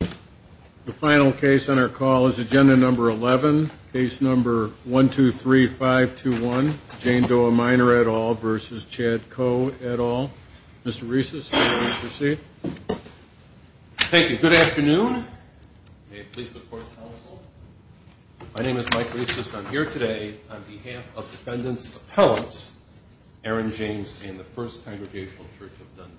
The final case on our call is agenda number 11, case number 1-2-3-5-2-1, Jane Doe a minor et al. v. Chad Coe et al. Mr. Reisses, would you please proceed? Thank you. Good afternoon. May it please the Court and the Council. My name is Mike Reisses. I'm here today on behalf of Defendants Appellants Aaron James and the First Congregational Church of Dundee.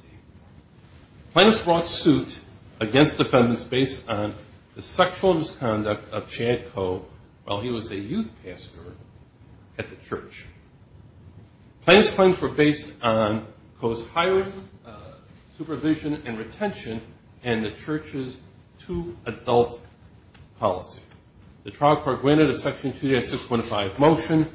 Plaintiffs brought suit against defendants based on the sexual misconduct of Chad Coe while he was a youth pastor at the church. Plaintiffs' claims were based on Coe's hired supervision and retention and the church's too-adult policy. The trial court granted a Section 296.5 motion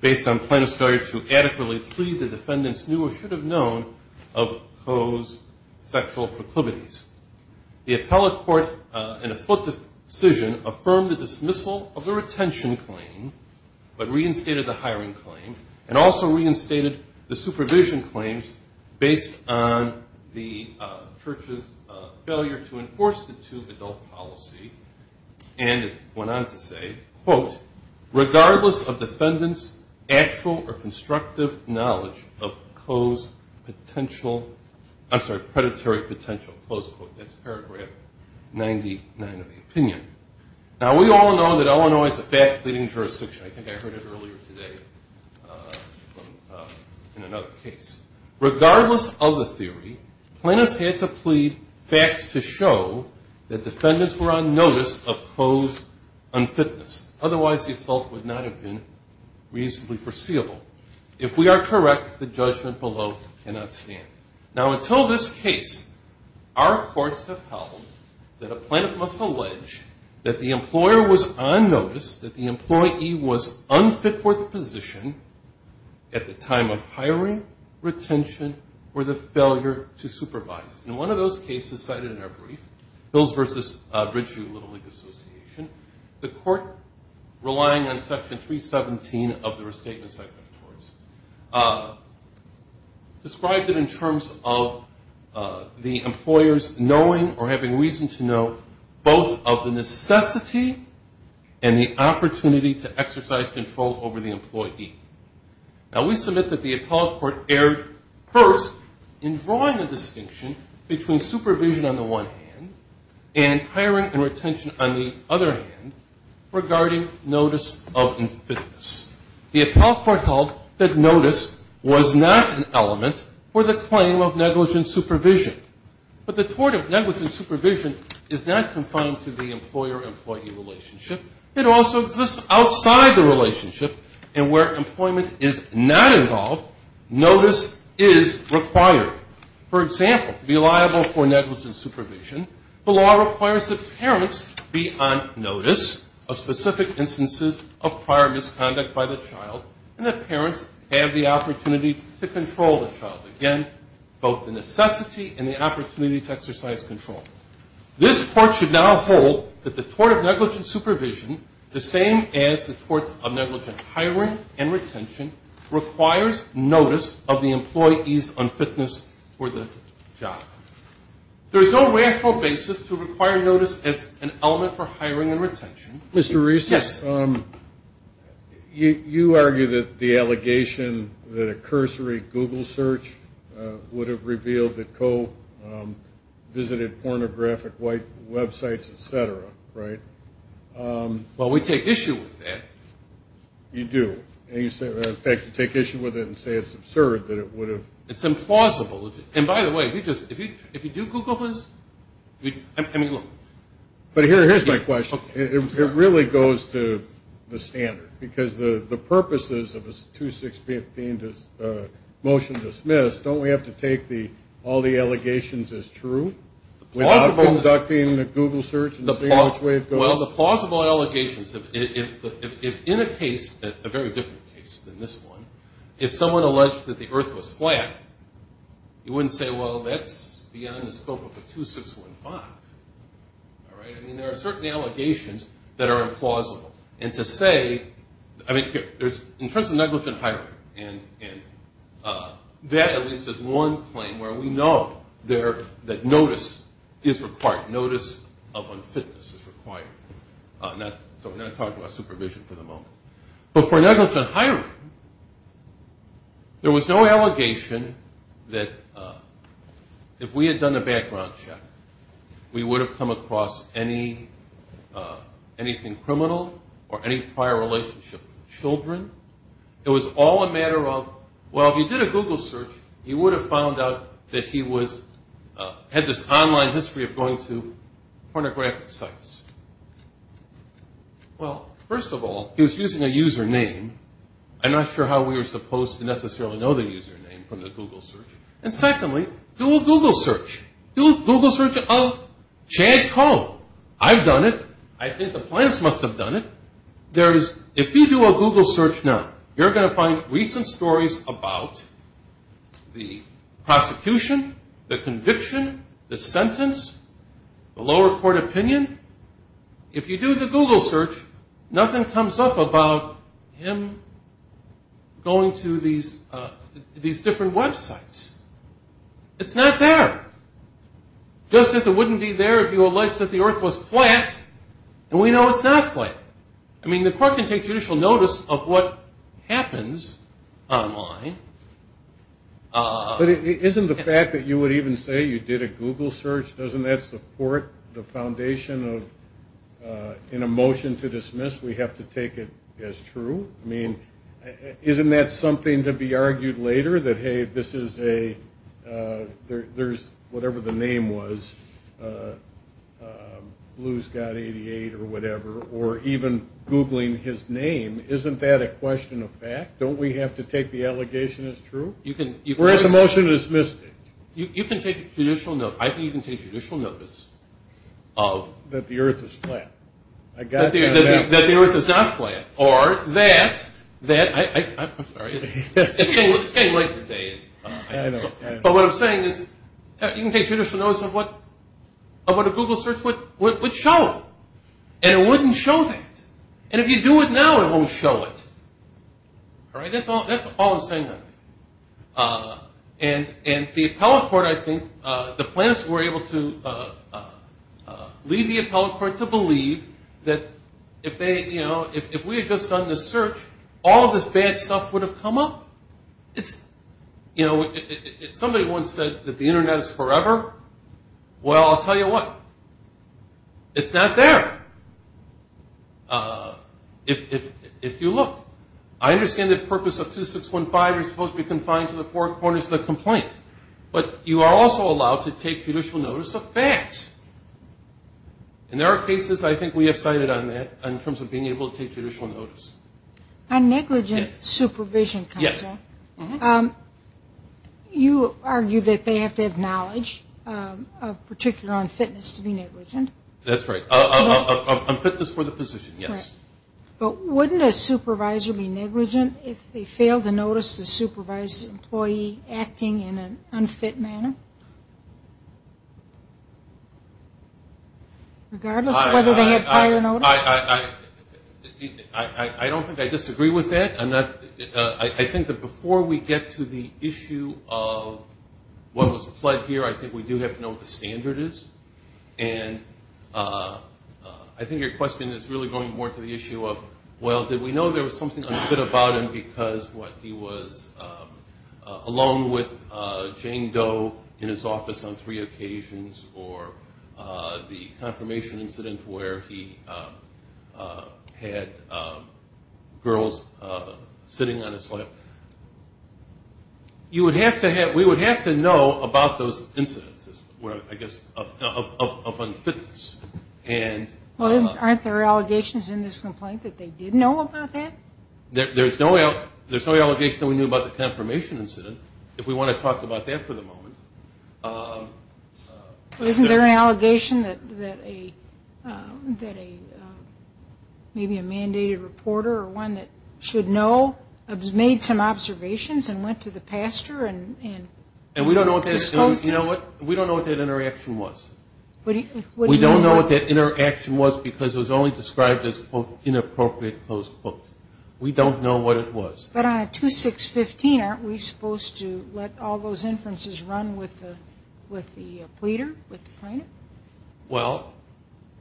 based on plaintiffs' failure to adequately plead the defendants knew or should have known of Coe's sexual proclivities. The appellate court in a split decision affirmed the dismissal of the retention claim but reinstated the hiring claim and also reinstated the supervision claims based on the church's failure to enforce the too-adult policy and went on to say, quote, regardless of defendant's actual or constructive knowledge of Coe's potential, I'm sorry, predatory potential, close quote. That's paragraph 99 of the opinion. Now we all know that Illinois is a fat pleading jurisdiction. I think I heard it earlier today in another case. Regardless of the theory, plaintiffs had to plead facts to show that defendants were on notice of Coe's unfitness. Otherwise the assault would not have been reasonably foreseeable. If we are correct, the judgment below cannot stand. Now until this case, our courts have held that a plaintiff must allege that the employer was on notice, that the employee was unfit for the position at the time of hiring, retention, or the failure to supervise. In one of those cases cited in our brief, Hills v. Ridgeview Little League Association, the court, relying on section 317 of the restatement section of TORS, described it in terms of the employer's knowing or having reason to know both of the necessity and the opportunity to exercise control over the employee. Now we submit that the appellate court erred first in drawing a distinction between supervision on the one hand and hiring and retention on the other hand regarding notice of unfitness. The appellate court recalled that notice was not an element for the claim of negligent supervision. But the tort of negligent supervision is not confined to the employer-employee relationship. It also exists outside the relationship. And where employment is not involved, notice is required. For example, to be liable for negligent supervision, the law requires that parents be on notice of specific instances of prior misconduct by the child and that parents have the opportunity to control the child. Again, both the necessity and the opportunity to exercise control. This court should now hold that the tort of negligent supervision, the same as the torts of negligent hiring and retention, requires notice of the employee's unfitness for the job. There is no rational basis to require notice as an element for hiring and retention. Mr. Reese, you argue that the allegation that a cursory Google search would have revealed that co-visited pornographic websites, et cetera, right? Well, we take issue with that. You do. In fact, you take issue with it and say it's absurd that it would have. It's implausible. And by the way, if you do Google this, I mean, look. But here's my question. It really goes to the standard because the purposes of a 2-6-15 motion dismissed, don't we have to take all the allegations as true? Without conducting a Google search and seeing which way it goes? Well, the plausible allegations, if in a case, a very different case than this one, if someone alleged that the earth was flat, you wouldn't say, well, that's beyond the scope of a 2-6-15. All right? I mean, there are certain allegations that are implausible. And to say, I mean, in terms of negligent hiring, and that at least is one claim where we know that notice is required. Notice of unfitness is required. So we're not going to talk about supervision for the moment. But for negligent hiring, there was no allegation that if we had done a background check, we would have come across anything criminal or any prior relationship with children. It was all a matter of, well, if you did a Google search, you would have found out that he had this online history of going to pornographic sites. Well, first of all, he was using a username. I'm not sure how we were supposed to necessarily know the username from the Google search. And secondly, do a Google search. Do a Google search of Chad Cohn. I've done it. I think the plants must have done it. If you do a Google search now, you're going to find recent stories about the prosecution, the conviction, the sentence, the lower court opinion. If you do the Google search, nothing comes up about him going to these different websites. It's not there. Just as it wouldn't be there if you alleged that the earth was flat, and we know it's not flat. I mean, the court can take judicial notice of what happens online. But isn't the fact that you would even say you did a Google search, doesn't that support the foundation of in a motion to dismiss, we have to take it as true? I mean, isn't that something to be argued later that, hey, this is a, there's, whatever the name was, Blue's Got 88 or whatever, or even Googling his name, isn't that a question of fact? Don't we have to take the allegation as true? We're at the motion to dismiss. You can take judicial notice. I think you can take judicial notice. That the earth is flat. That the earth is not flat. Or that, I'm sorry, it's getting late today. But what I'm saying is you can take judicial notice of what a Google search would show, and it wouldn't show that. And if you do it now, it won't show it. All right? That's all I'm saying. And the appellate court, I think, the plaintiffs were able to lead the appellate court to believe that if they, you know, if we had just done this search, all of this bad stuff would have come up. It's, you know, if somebody once said that the Internet is forever, well, I'll tell you what. It's not there. If you look, I understand the purpose of 2615, you're supposed to be confined to the four corners of the complaint. But you are also allowed to take judicial notice of facts. And there are cases, I think, we have cited on that, in terms of being able to take judicial notice. On negligent supervision counsel, you argue that they have to have knowledge, particularly on fitness, to be negligent. That's right. On fitness for the position, yes. But wouldn't a supervisor be negligent if they failed to notice the supervised employee acting in an unfit manner? Regardless of whether they had prior notice? I don't think I disagree with that. I'm not – I think that before we get to the issue of what was pled here, I think we do have to know what the standard is. And I think your question is really going more to the issue of, well, did we know there was something unfit about him because he was alone with Jane Doe in his office on three occasions, or the confirmation incident where he had girls sitting on his lap. You would have to have – we would have to know about those incidences, I guess, of unfitness. Well, aren't there allegations in this complaint that they did know about that? There's no allegation that we knew about the confirmation incident, if we want to talk about that for the moment. Well, isn't there an allegation that maybe a mandated reporter or one that should know made some observations and went to the pastor and was supposed to? And we don't know what that – you know what? We don't know what that interaction was. We don't know what that interaction was because it was only described as, quote, inappropriate, close quote. We don't know what it was. But on a 2615, aren't we supposed to let all those inferences run with the pleader, with the plaintiff? Well,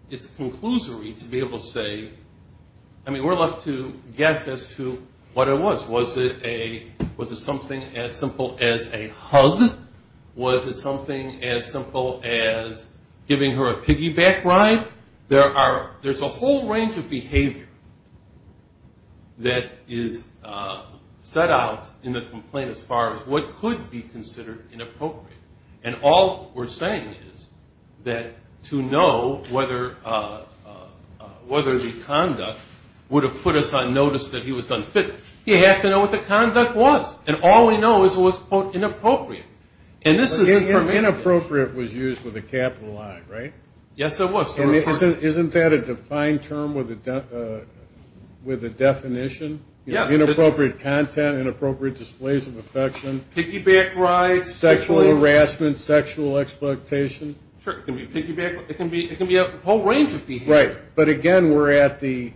it's a conclusory to be able to say – I mean, we're left to guess as to what it was. Was it something as simple as a hug? Was it something as simple as giving her a piggyback ride? There's a whole range of behavior that is set out in the complaint as far as what could be considered inappropriate. And all we're saying is that to know whether the conduct would have put us on notice that he was unfit, you have to know what the conduct was. And all we know is it was, quote, inappropriate. And this is – Inappropriate was used with a capital I, right? Yes, it was. And isn't that a defined term with a definition? Yes. Inappropriate content, inappropriate displays of affection. Piggyback rides. Sexual harassment, sexual exploitation. Sure, it can be piggyback. It can be a whole range of behavior. Right, but again, we're at the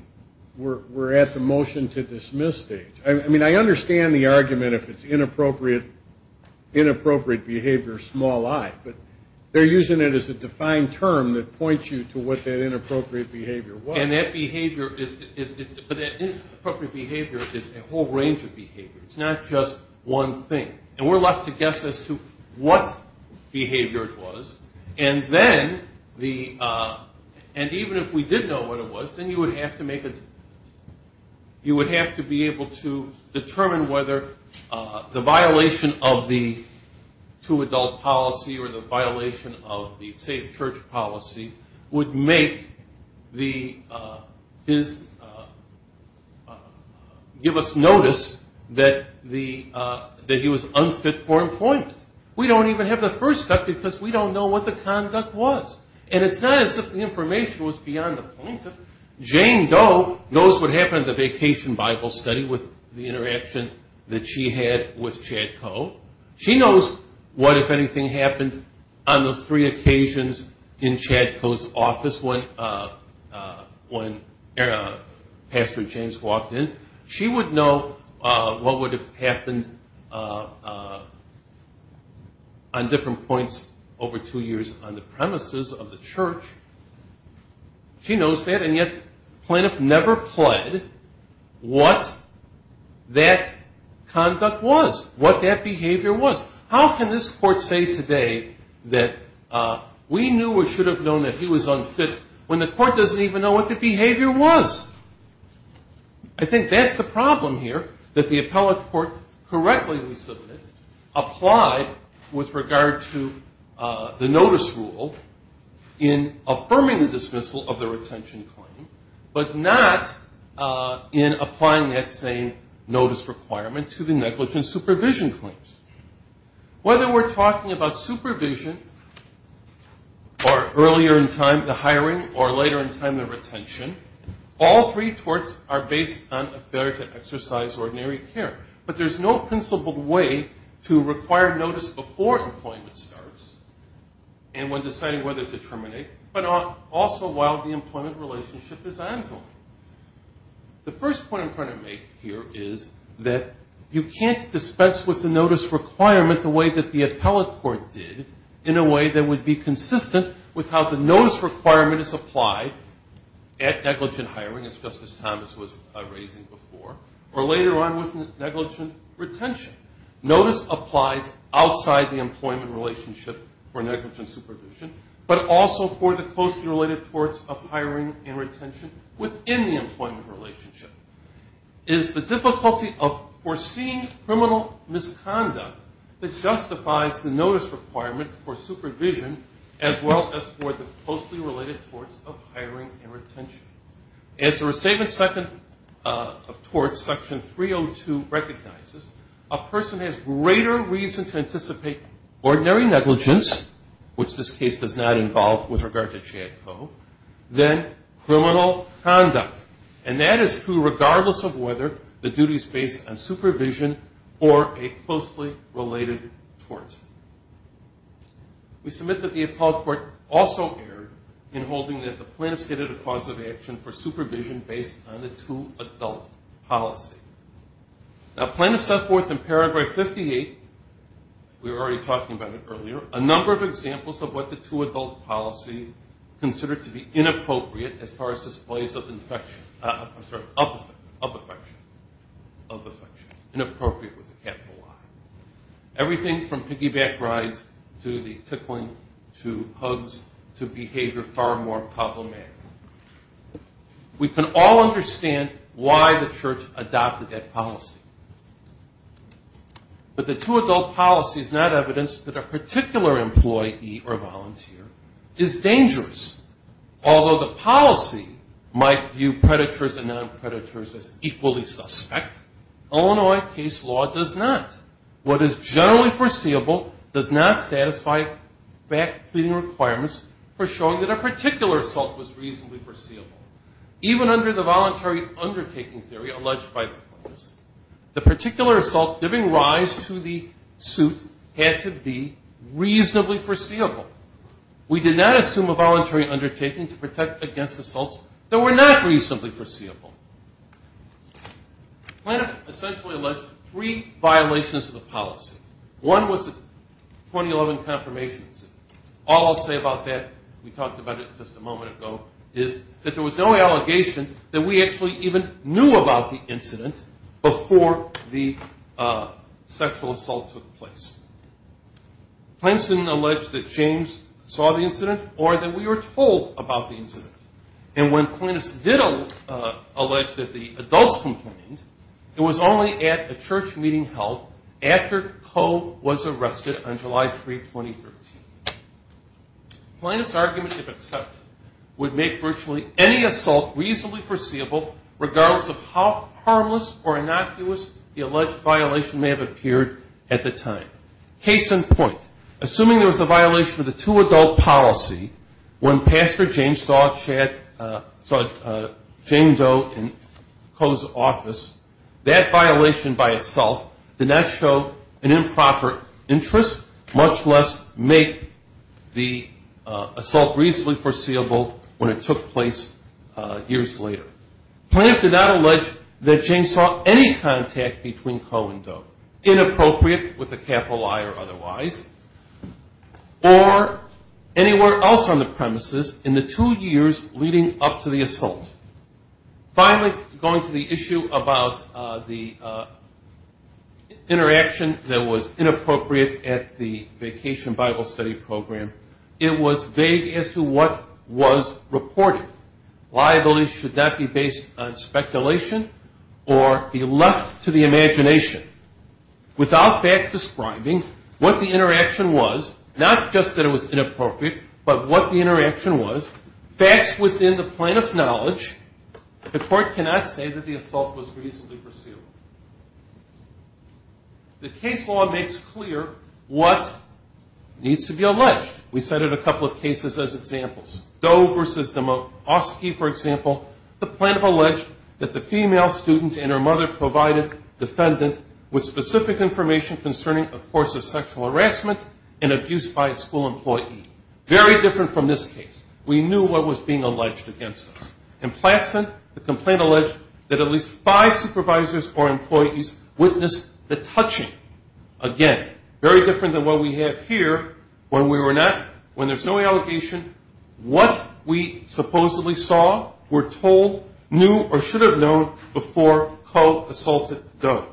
motion to dismiss stage. I mean, I understand the argument if it's inappropriate behavior, small I. But they're using it as a defined term that points you to what that inappropriate behavior was. And that behavior is – but that inappropriate behavior is a whole range of behavior. It's not just one thing. And we're left to guess as to what behavior it was. And then the – and even if we did know what it was, then you would have to make a – you would have to be able to determine whether the violation of the two-adult policy or the violation of the safe church policy would make the – give us notice that the – that he was unfit for employment. We don't even have the first step because we don't know what the conduct was. And it's not as if the information was beyond the point of – Jane Doe knows what happened at the vacation Bible study with the interaction that she had with Chad Coe. She knows what, if anything, happened on those three occasions in Chad Coe's office when Pastor James walked in. She would know what would have happened on different points over two years on the premises of the church. She knows that. And yet Plaintiff never pled what that conduct was, what that behavior was. How can this court say today that we knew or should have known that he was unfit when the court doesn't even know what the behavior was? I think that's the problem here, that the appellate court correctly, we submit, applied with regard to the notice rule in affirming the dismissal of the retention claim but not in applying that same notice requirement to the negligence supervision claims. Whether we're talking about supervision or earlier in time, the hiring, or later in time, the retention, all three torts are based on a failure to exercise ordinary care. But there's no principled way to require notice before employment starts and when deciding whether to terminate but also while the employment relationship is ongoing. The first point I'm trying to make here is that you can't dispense with the notice requirement the way that the appellate court did in a way that would be consistent with how the notice requirement is applied at negligent hiring, as Justice Thomas was raising before, or later on with negligent retention. Notice applies outside the employment relationship for negligent supervision but also for the closely related torts of hiring and retention within the employment relationship. It is the difficulty of foreseeing criminal misconduct that justifies the notice requirement for supervision as well as for the closely related torts of hiring and retention. As the Restatement Second of Torts, Section 302 recognizes, a person has greater reason to anticipate ordinary negligence, which this case does not involve with regard to JADCO, than criminal conduct, and that is true regardless of whether the duty is based on supervision or a closely related tort. We submit that the appellate court also erred in holding that the plaintiff stated a cause of action for supervision based on the two-adult policy. Now plaintiff set forth in paragraph 58, we were already talking about it earlier, a number of examples of what the two-adult policy considered to be inappropriate as far as displays of affection. I'm sorry, of affection, of affection, inappropriate with a capital I. Everything from piggyback rides to the tickling to hugs to behavior far more problematic. We can all understand why the church adopted that policy. But the two-adult policy is not evidence that a particular employee or volunteer is dangerous. Although the policy might view predators and non-predators as equally suspect, Illinois case law does not. What is generally foreseeable does not satisfy fact-clearing requirements for showing that a particular assault was reasonably foreseeable. Even under the voluntary undertaking theory alleged by the courts, the particular assault giving rise to the suit had to be reasonably foreseeable. We did not assume a voluntary undertaking to protect against assaults that were not reasonably foreseeable. Plaintiff essentially alleged three violations of the policy. One was 2011 confirmations. All I'll say about that, we talked about it just a moment ago, is that there was no allegation that we actually even knew about the incident before the sexual assault took place. Plaintiff didn't allege that James saw the incident or that we were told about the incident. And when plaintiffs did allege that the adults complained, it was only at a church meeting held after Coe was arrested on July 3, 2013. Plaintiff's argument, if accepted, would make virtually any assault reasonably foreseeable regardless of how harmless or innocuous the alleged violation may have appeared at the time. Case in point, assuming there was a violation of the two-adult policy when Pastor James saw James Doe in Coe's office, that violation by itself did not show an improper interest, much less make the assault reasonably foreseeable when it took place years later. Plaintiff did not allege that James saw any contact between Coe and Doe, inappropriate with a capital I or otherwise, or anywhere else on the premises in the two years leading up to the assault. Finally, going to the issue about the interaction that was inappropriate at the Vacation Bible Study Program, it was vague as to what was reported. Liabilities should not be based on speculation or be left to the imagination. Without facts describing what the interaction was, not just that it was inappropriate, but what the interaction was, facts within the plaintiff's knowledge, the court cannot say that the assault was reasonably foreseeable. The case law makes clear what needs to be alleged. We cited a couple of cases as examples. Doe v. Demofsky, for example, the plaintiff alleged that the female student and her mother provided defendants with specific information concerning a course of sexual harassment and abuse by a school employee. Very different from this case. We knew what was being alleged against us. The plaintiff and her employees witnessed the touching. Again, very different than what we have here. When there's no allegation, what we supposedly saw, were told, knew, or should have known before Coe assaulted Doe.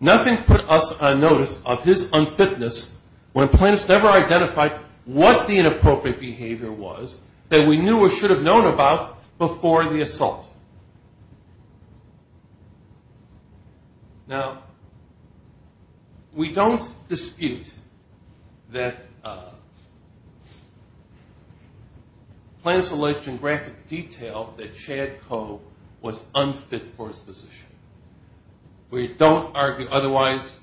Nothing put us on notice of his unfitness when plaintiffs never identified what the inappropriate behavior was that we knew or should have known about before the assault. Now, we don't dispute that plaintiffs alleged in graphic detail that Chad Coe was unfit for his position. We don't argue otherwise,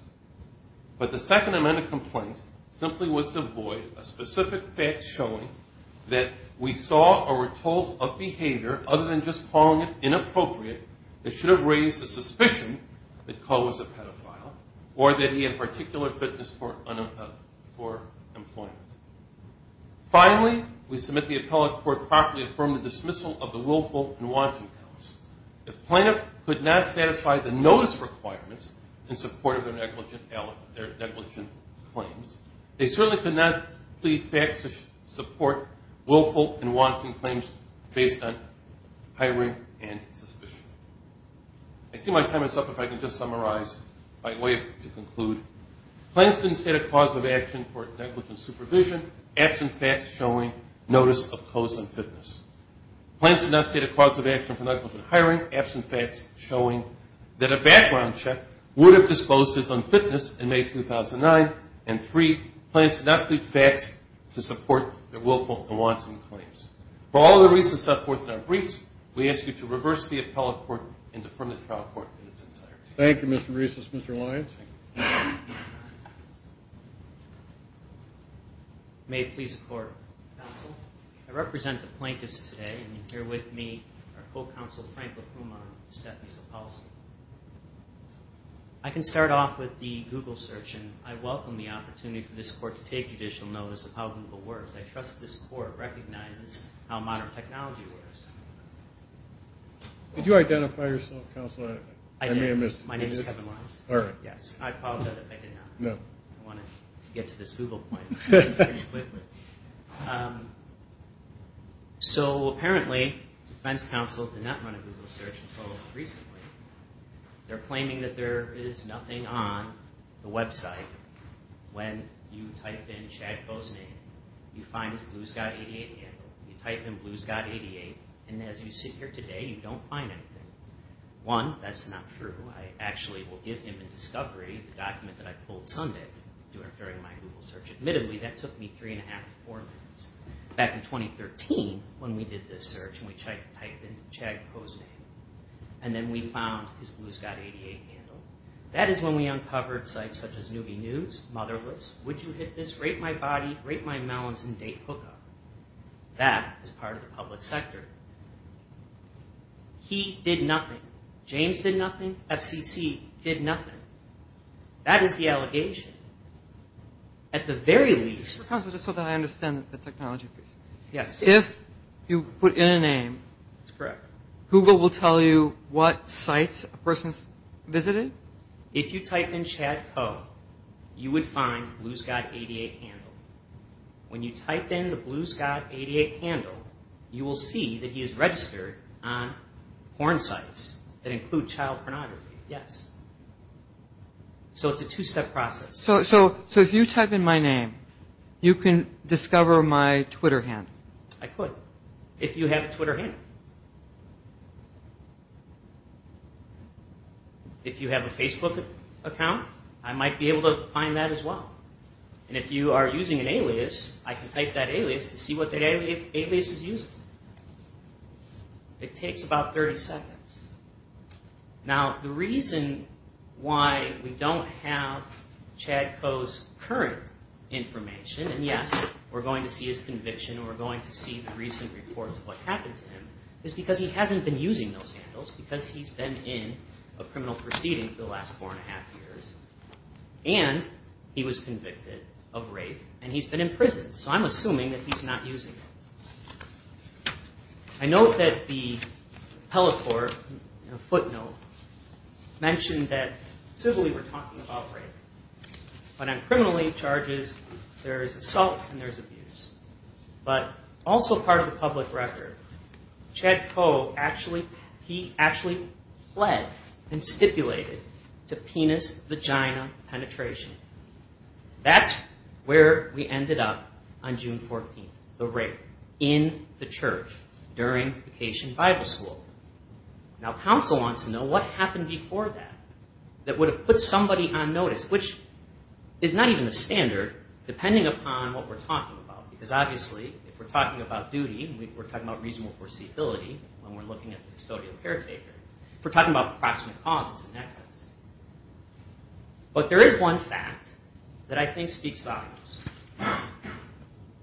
but the second amendment complaint simply was to avoid a specific fact showing that we saw or were told of behavior other than just calling it inappropriate that should have raised the suspicion that Coe was a pedophile or that he had particular fitness for employment. Finally, we submit the appellate court properly affirmed the dismissal of the willful and wanting counts. If plaintiff could not satisfy the notice requirements in support of their negligent claims, they certainly could not plead facts to support willful and wanting claims based on hiring and suspicion. I see my time is up if I can just summarize my way to conclude. Plaintiffs didn't state a cause of action for negligent supervision. Absent facts showing notice of Coe's unfitness. Plaintiffs did not state a cause of action for negligent hiring. Absent facts showing that a background check would have disclosed his unfitness in May 2009 and three, plaintiffs did not plead facts to support their willful and wanting claims. For all the reasons set forth in our briefs, we ask you to reverse the appellate court and affirm the trial court in its entirety. Thank you, Mr. Bresos. Mr. Lyons. May it please the Court. Counsel, I represent the plaintiffs today and here with me are Co-Counsel Frank LaPuma and Stephanie Sapolsky. I can start off with the Google search and I welcome the opportunity for this court to take judicial notice of how Google works. I trust this court recognizes how modern technology works. Did you identify yourself, Counsel? I did. My name is Kevin Lyons. I apologize if I did not. I wanted to get to this Google point pretty quickly. So apparently Defense Counsel did not run a Google search until recently. They're claiming that there is nothing on the website when you type in Chad Boznan. You find his Blue Scott 88 handle. You type in Blue Scott 88 and as you sit here today, you don't find anything. One, that's not true. I actually will give him in discovery the document that I pulled Sunday during my Google search. Admittedly, that took me three and a half to four minutes. Back in 2013, when we did this search and we typed in Chad Boznan and then we found his Blue Scott 88 handle, that is when we uncovered sites such as Newby News, Motherless, Would You Hit This, Rape My Body, Rape My Melons, and Date Hookup. That is part of the public sector. He did nothing. James did nothing. FCC did nothing. That is the allegation. At the very least... If you put in a name, Google will tell you what sites a person has visited? If you type in Chad Co, you would find Blue Scott 88 handle. When you type in the Blue Scott 88 handle, you will see that he is registered on porn sites that include child pornography. It is a two-step process. If you type in my name, you can discover my Twitter handle? I could, if you have a Twitter handle. If you have a Facebook account, I might be able to find that as well. If you are using an alias, I can type that alias to see what that alias is using. It takes about 30 seconds. The reason why we don't have Chad Co's current information, and yes, we are going to see his conviction, we are going to see the recent reports of what happened to him, is because he hasn't been using those handles, because he's been in a criminal proceeding for the last four and a half years, and he was convicted of rape, and he's been in prison, so I'm assuming that he's not using it. I note that the Pelot Court footnote mentioned that civilly we're talking about rape. When I'm criminally charged, there's assault and there's abuse. But also part of the public record, Chad Co, he actually pled and stipulated to penis-vagina penetration. That's where we ended up on June 14th, the rape, in the church, during vacation Bible school. Now, counsel wants to know what happened before that, that would have put somebody on notice, which is not even the standard, depending upon what we're talking about, because obviously if we're talking about duty, we're talking about reasonable foreseeability when we're looking at the custodial caretaker. If we're talking about approximate cause, it's an excess. But there is one fact that I think speaks volumes.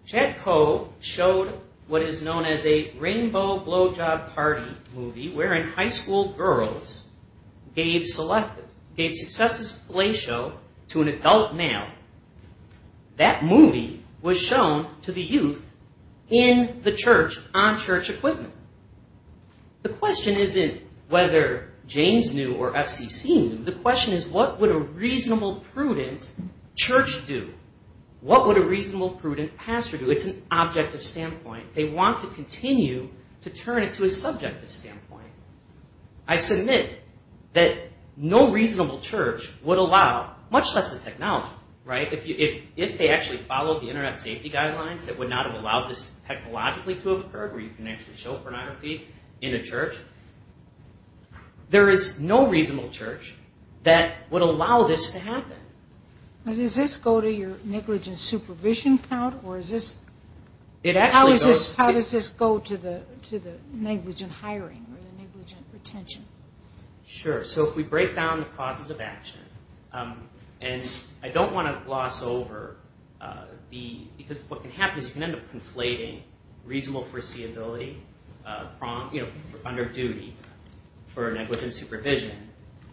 Chad Co showed what is known as a rainbow blowjob party movie, wherein high school girls gave successes to a play show to an adult male. That movie was shown to the youth in the church on church equipment. The question isn't whether James knew or FCC knew. The question is what would a reasonable, prudent church do? What would a reasonable, prudent pastor do? It's an objective standpoint. They want to continue to turn it to a subjective standpoint. I submit that no reasonable church would allow, much less the technology, if they actually followed the internet safety guidelines that would not have allowed this technologically to have occurred, where you can actually show pornography in a church, there is no reasonable church that would allow this to happen. Does this go to your negligent supervision count? How does this go to the negligent hiring or the negligent retention? If we break down the causes of action, I don't want to gloss over. What can happen is you can end up conflating reasonable foreseeability under duty for negligent supervision,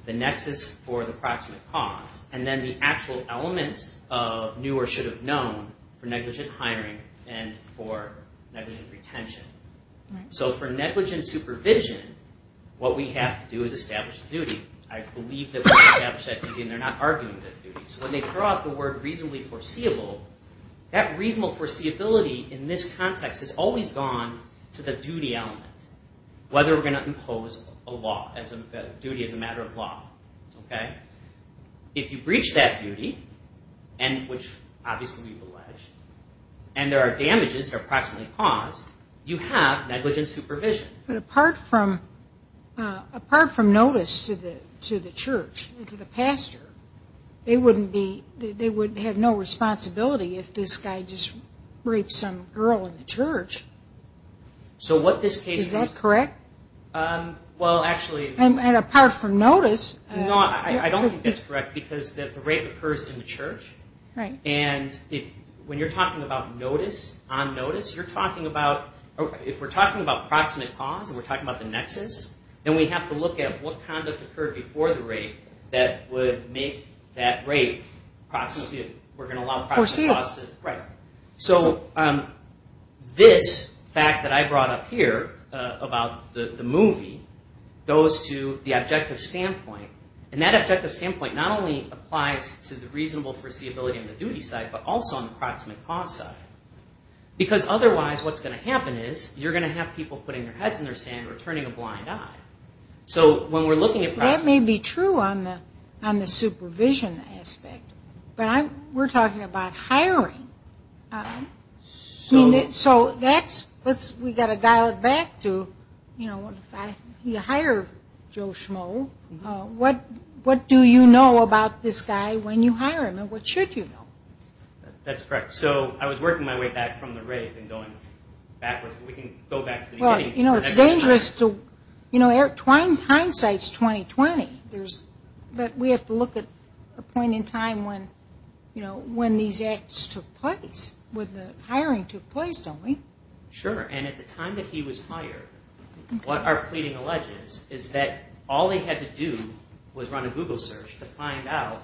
the nexus for the approximate cause, and then the actual elements of new or should have known for negligent hiring and for negligent retention. For negligent supervision, what we have to do is establish the duty. I believe that we establish that duty, and they're not arguing that duty. When they throw out the word reasonably foreseeable, that reasonable foreseeability in this context has always gone to the duty element, whether we're going to impose a duty as a matter of law. If you breach that duty, which obviously we've alleged, and there are damages that are approximately caused, you have negligent supervision. But apart from notice to the church and to the pastor, they would have no responsibility if this guy just raped some girl in the church. Is that correct? I don't think that's correct because the rape occurs in the church. When you're talking about notice, on notice, if we're talking about approximate cause and we're talking about the nexus, then we have to look at what kind of occurred before the rape that would make that rape approximate. So this fact that I brought up here about the movie goes to the objective standpoint. And that objective standpoint not only applies to the reasonable foreseeability on the duty side, but also on the approximate cause side. Because otherwise what's going to happen is you're going to have people putting their heads in the sand or turning a blind eye. That may be true on the supervision aspect, but we're talking about hiring. So we've got to dial it back to if you hire Joe Schmoe, what do you know about this guy when you hire him and what should you know? That's correct. So I was working my way back from the rape and going backwards. It's dangerous. Hindsight's 20-20. But we have to look at a point in time when these acts took place, when the hiring took place, don't we? Sure. And at the time that he was hired, what our pleading alleges is that all they had to do was run a Google search to find out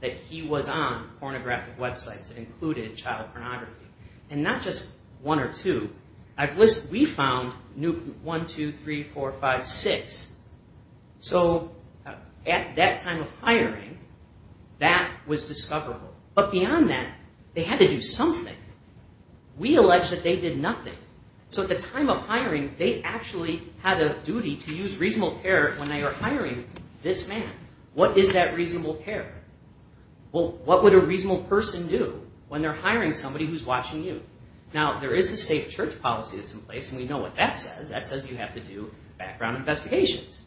that he was on that list. We found 1, 2, 3, 4, 5, 6. So at that time of hiring, that was discoverable. But beyond that, they had to do something. We allege that they did nothing. So at the time of hiring, they actually had a duty to use reasonable care when they were hiring this man. What is that reasonable care? Well, what would a reasonable person do when they're hiring somebody who's watching you? Now, there is a safe church policy that's in place, and we know what that says. That says you have to do background investigations.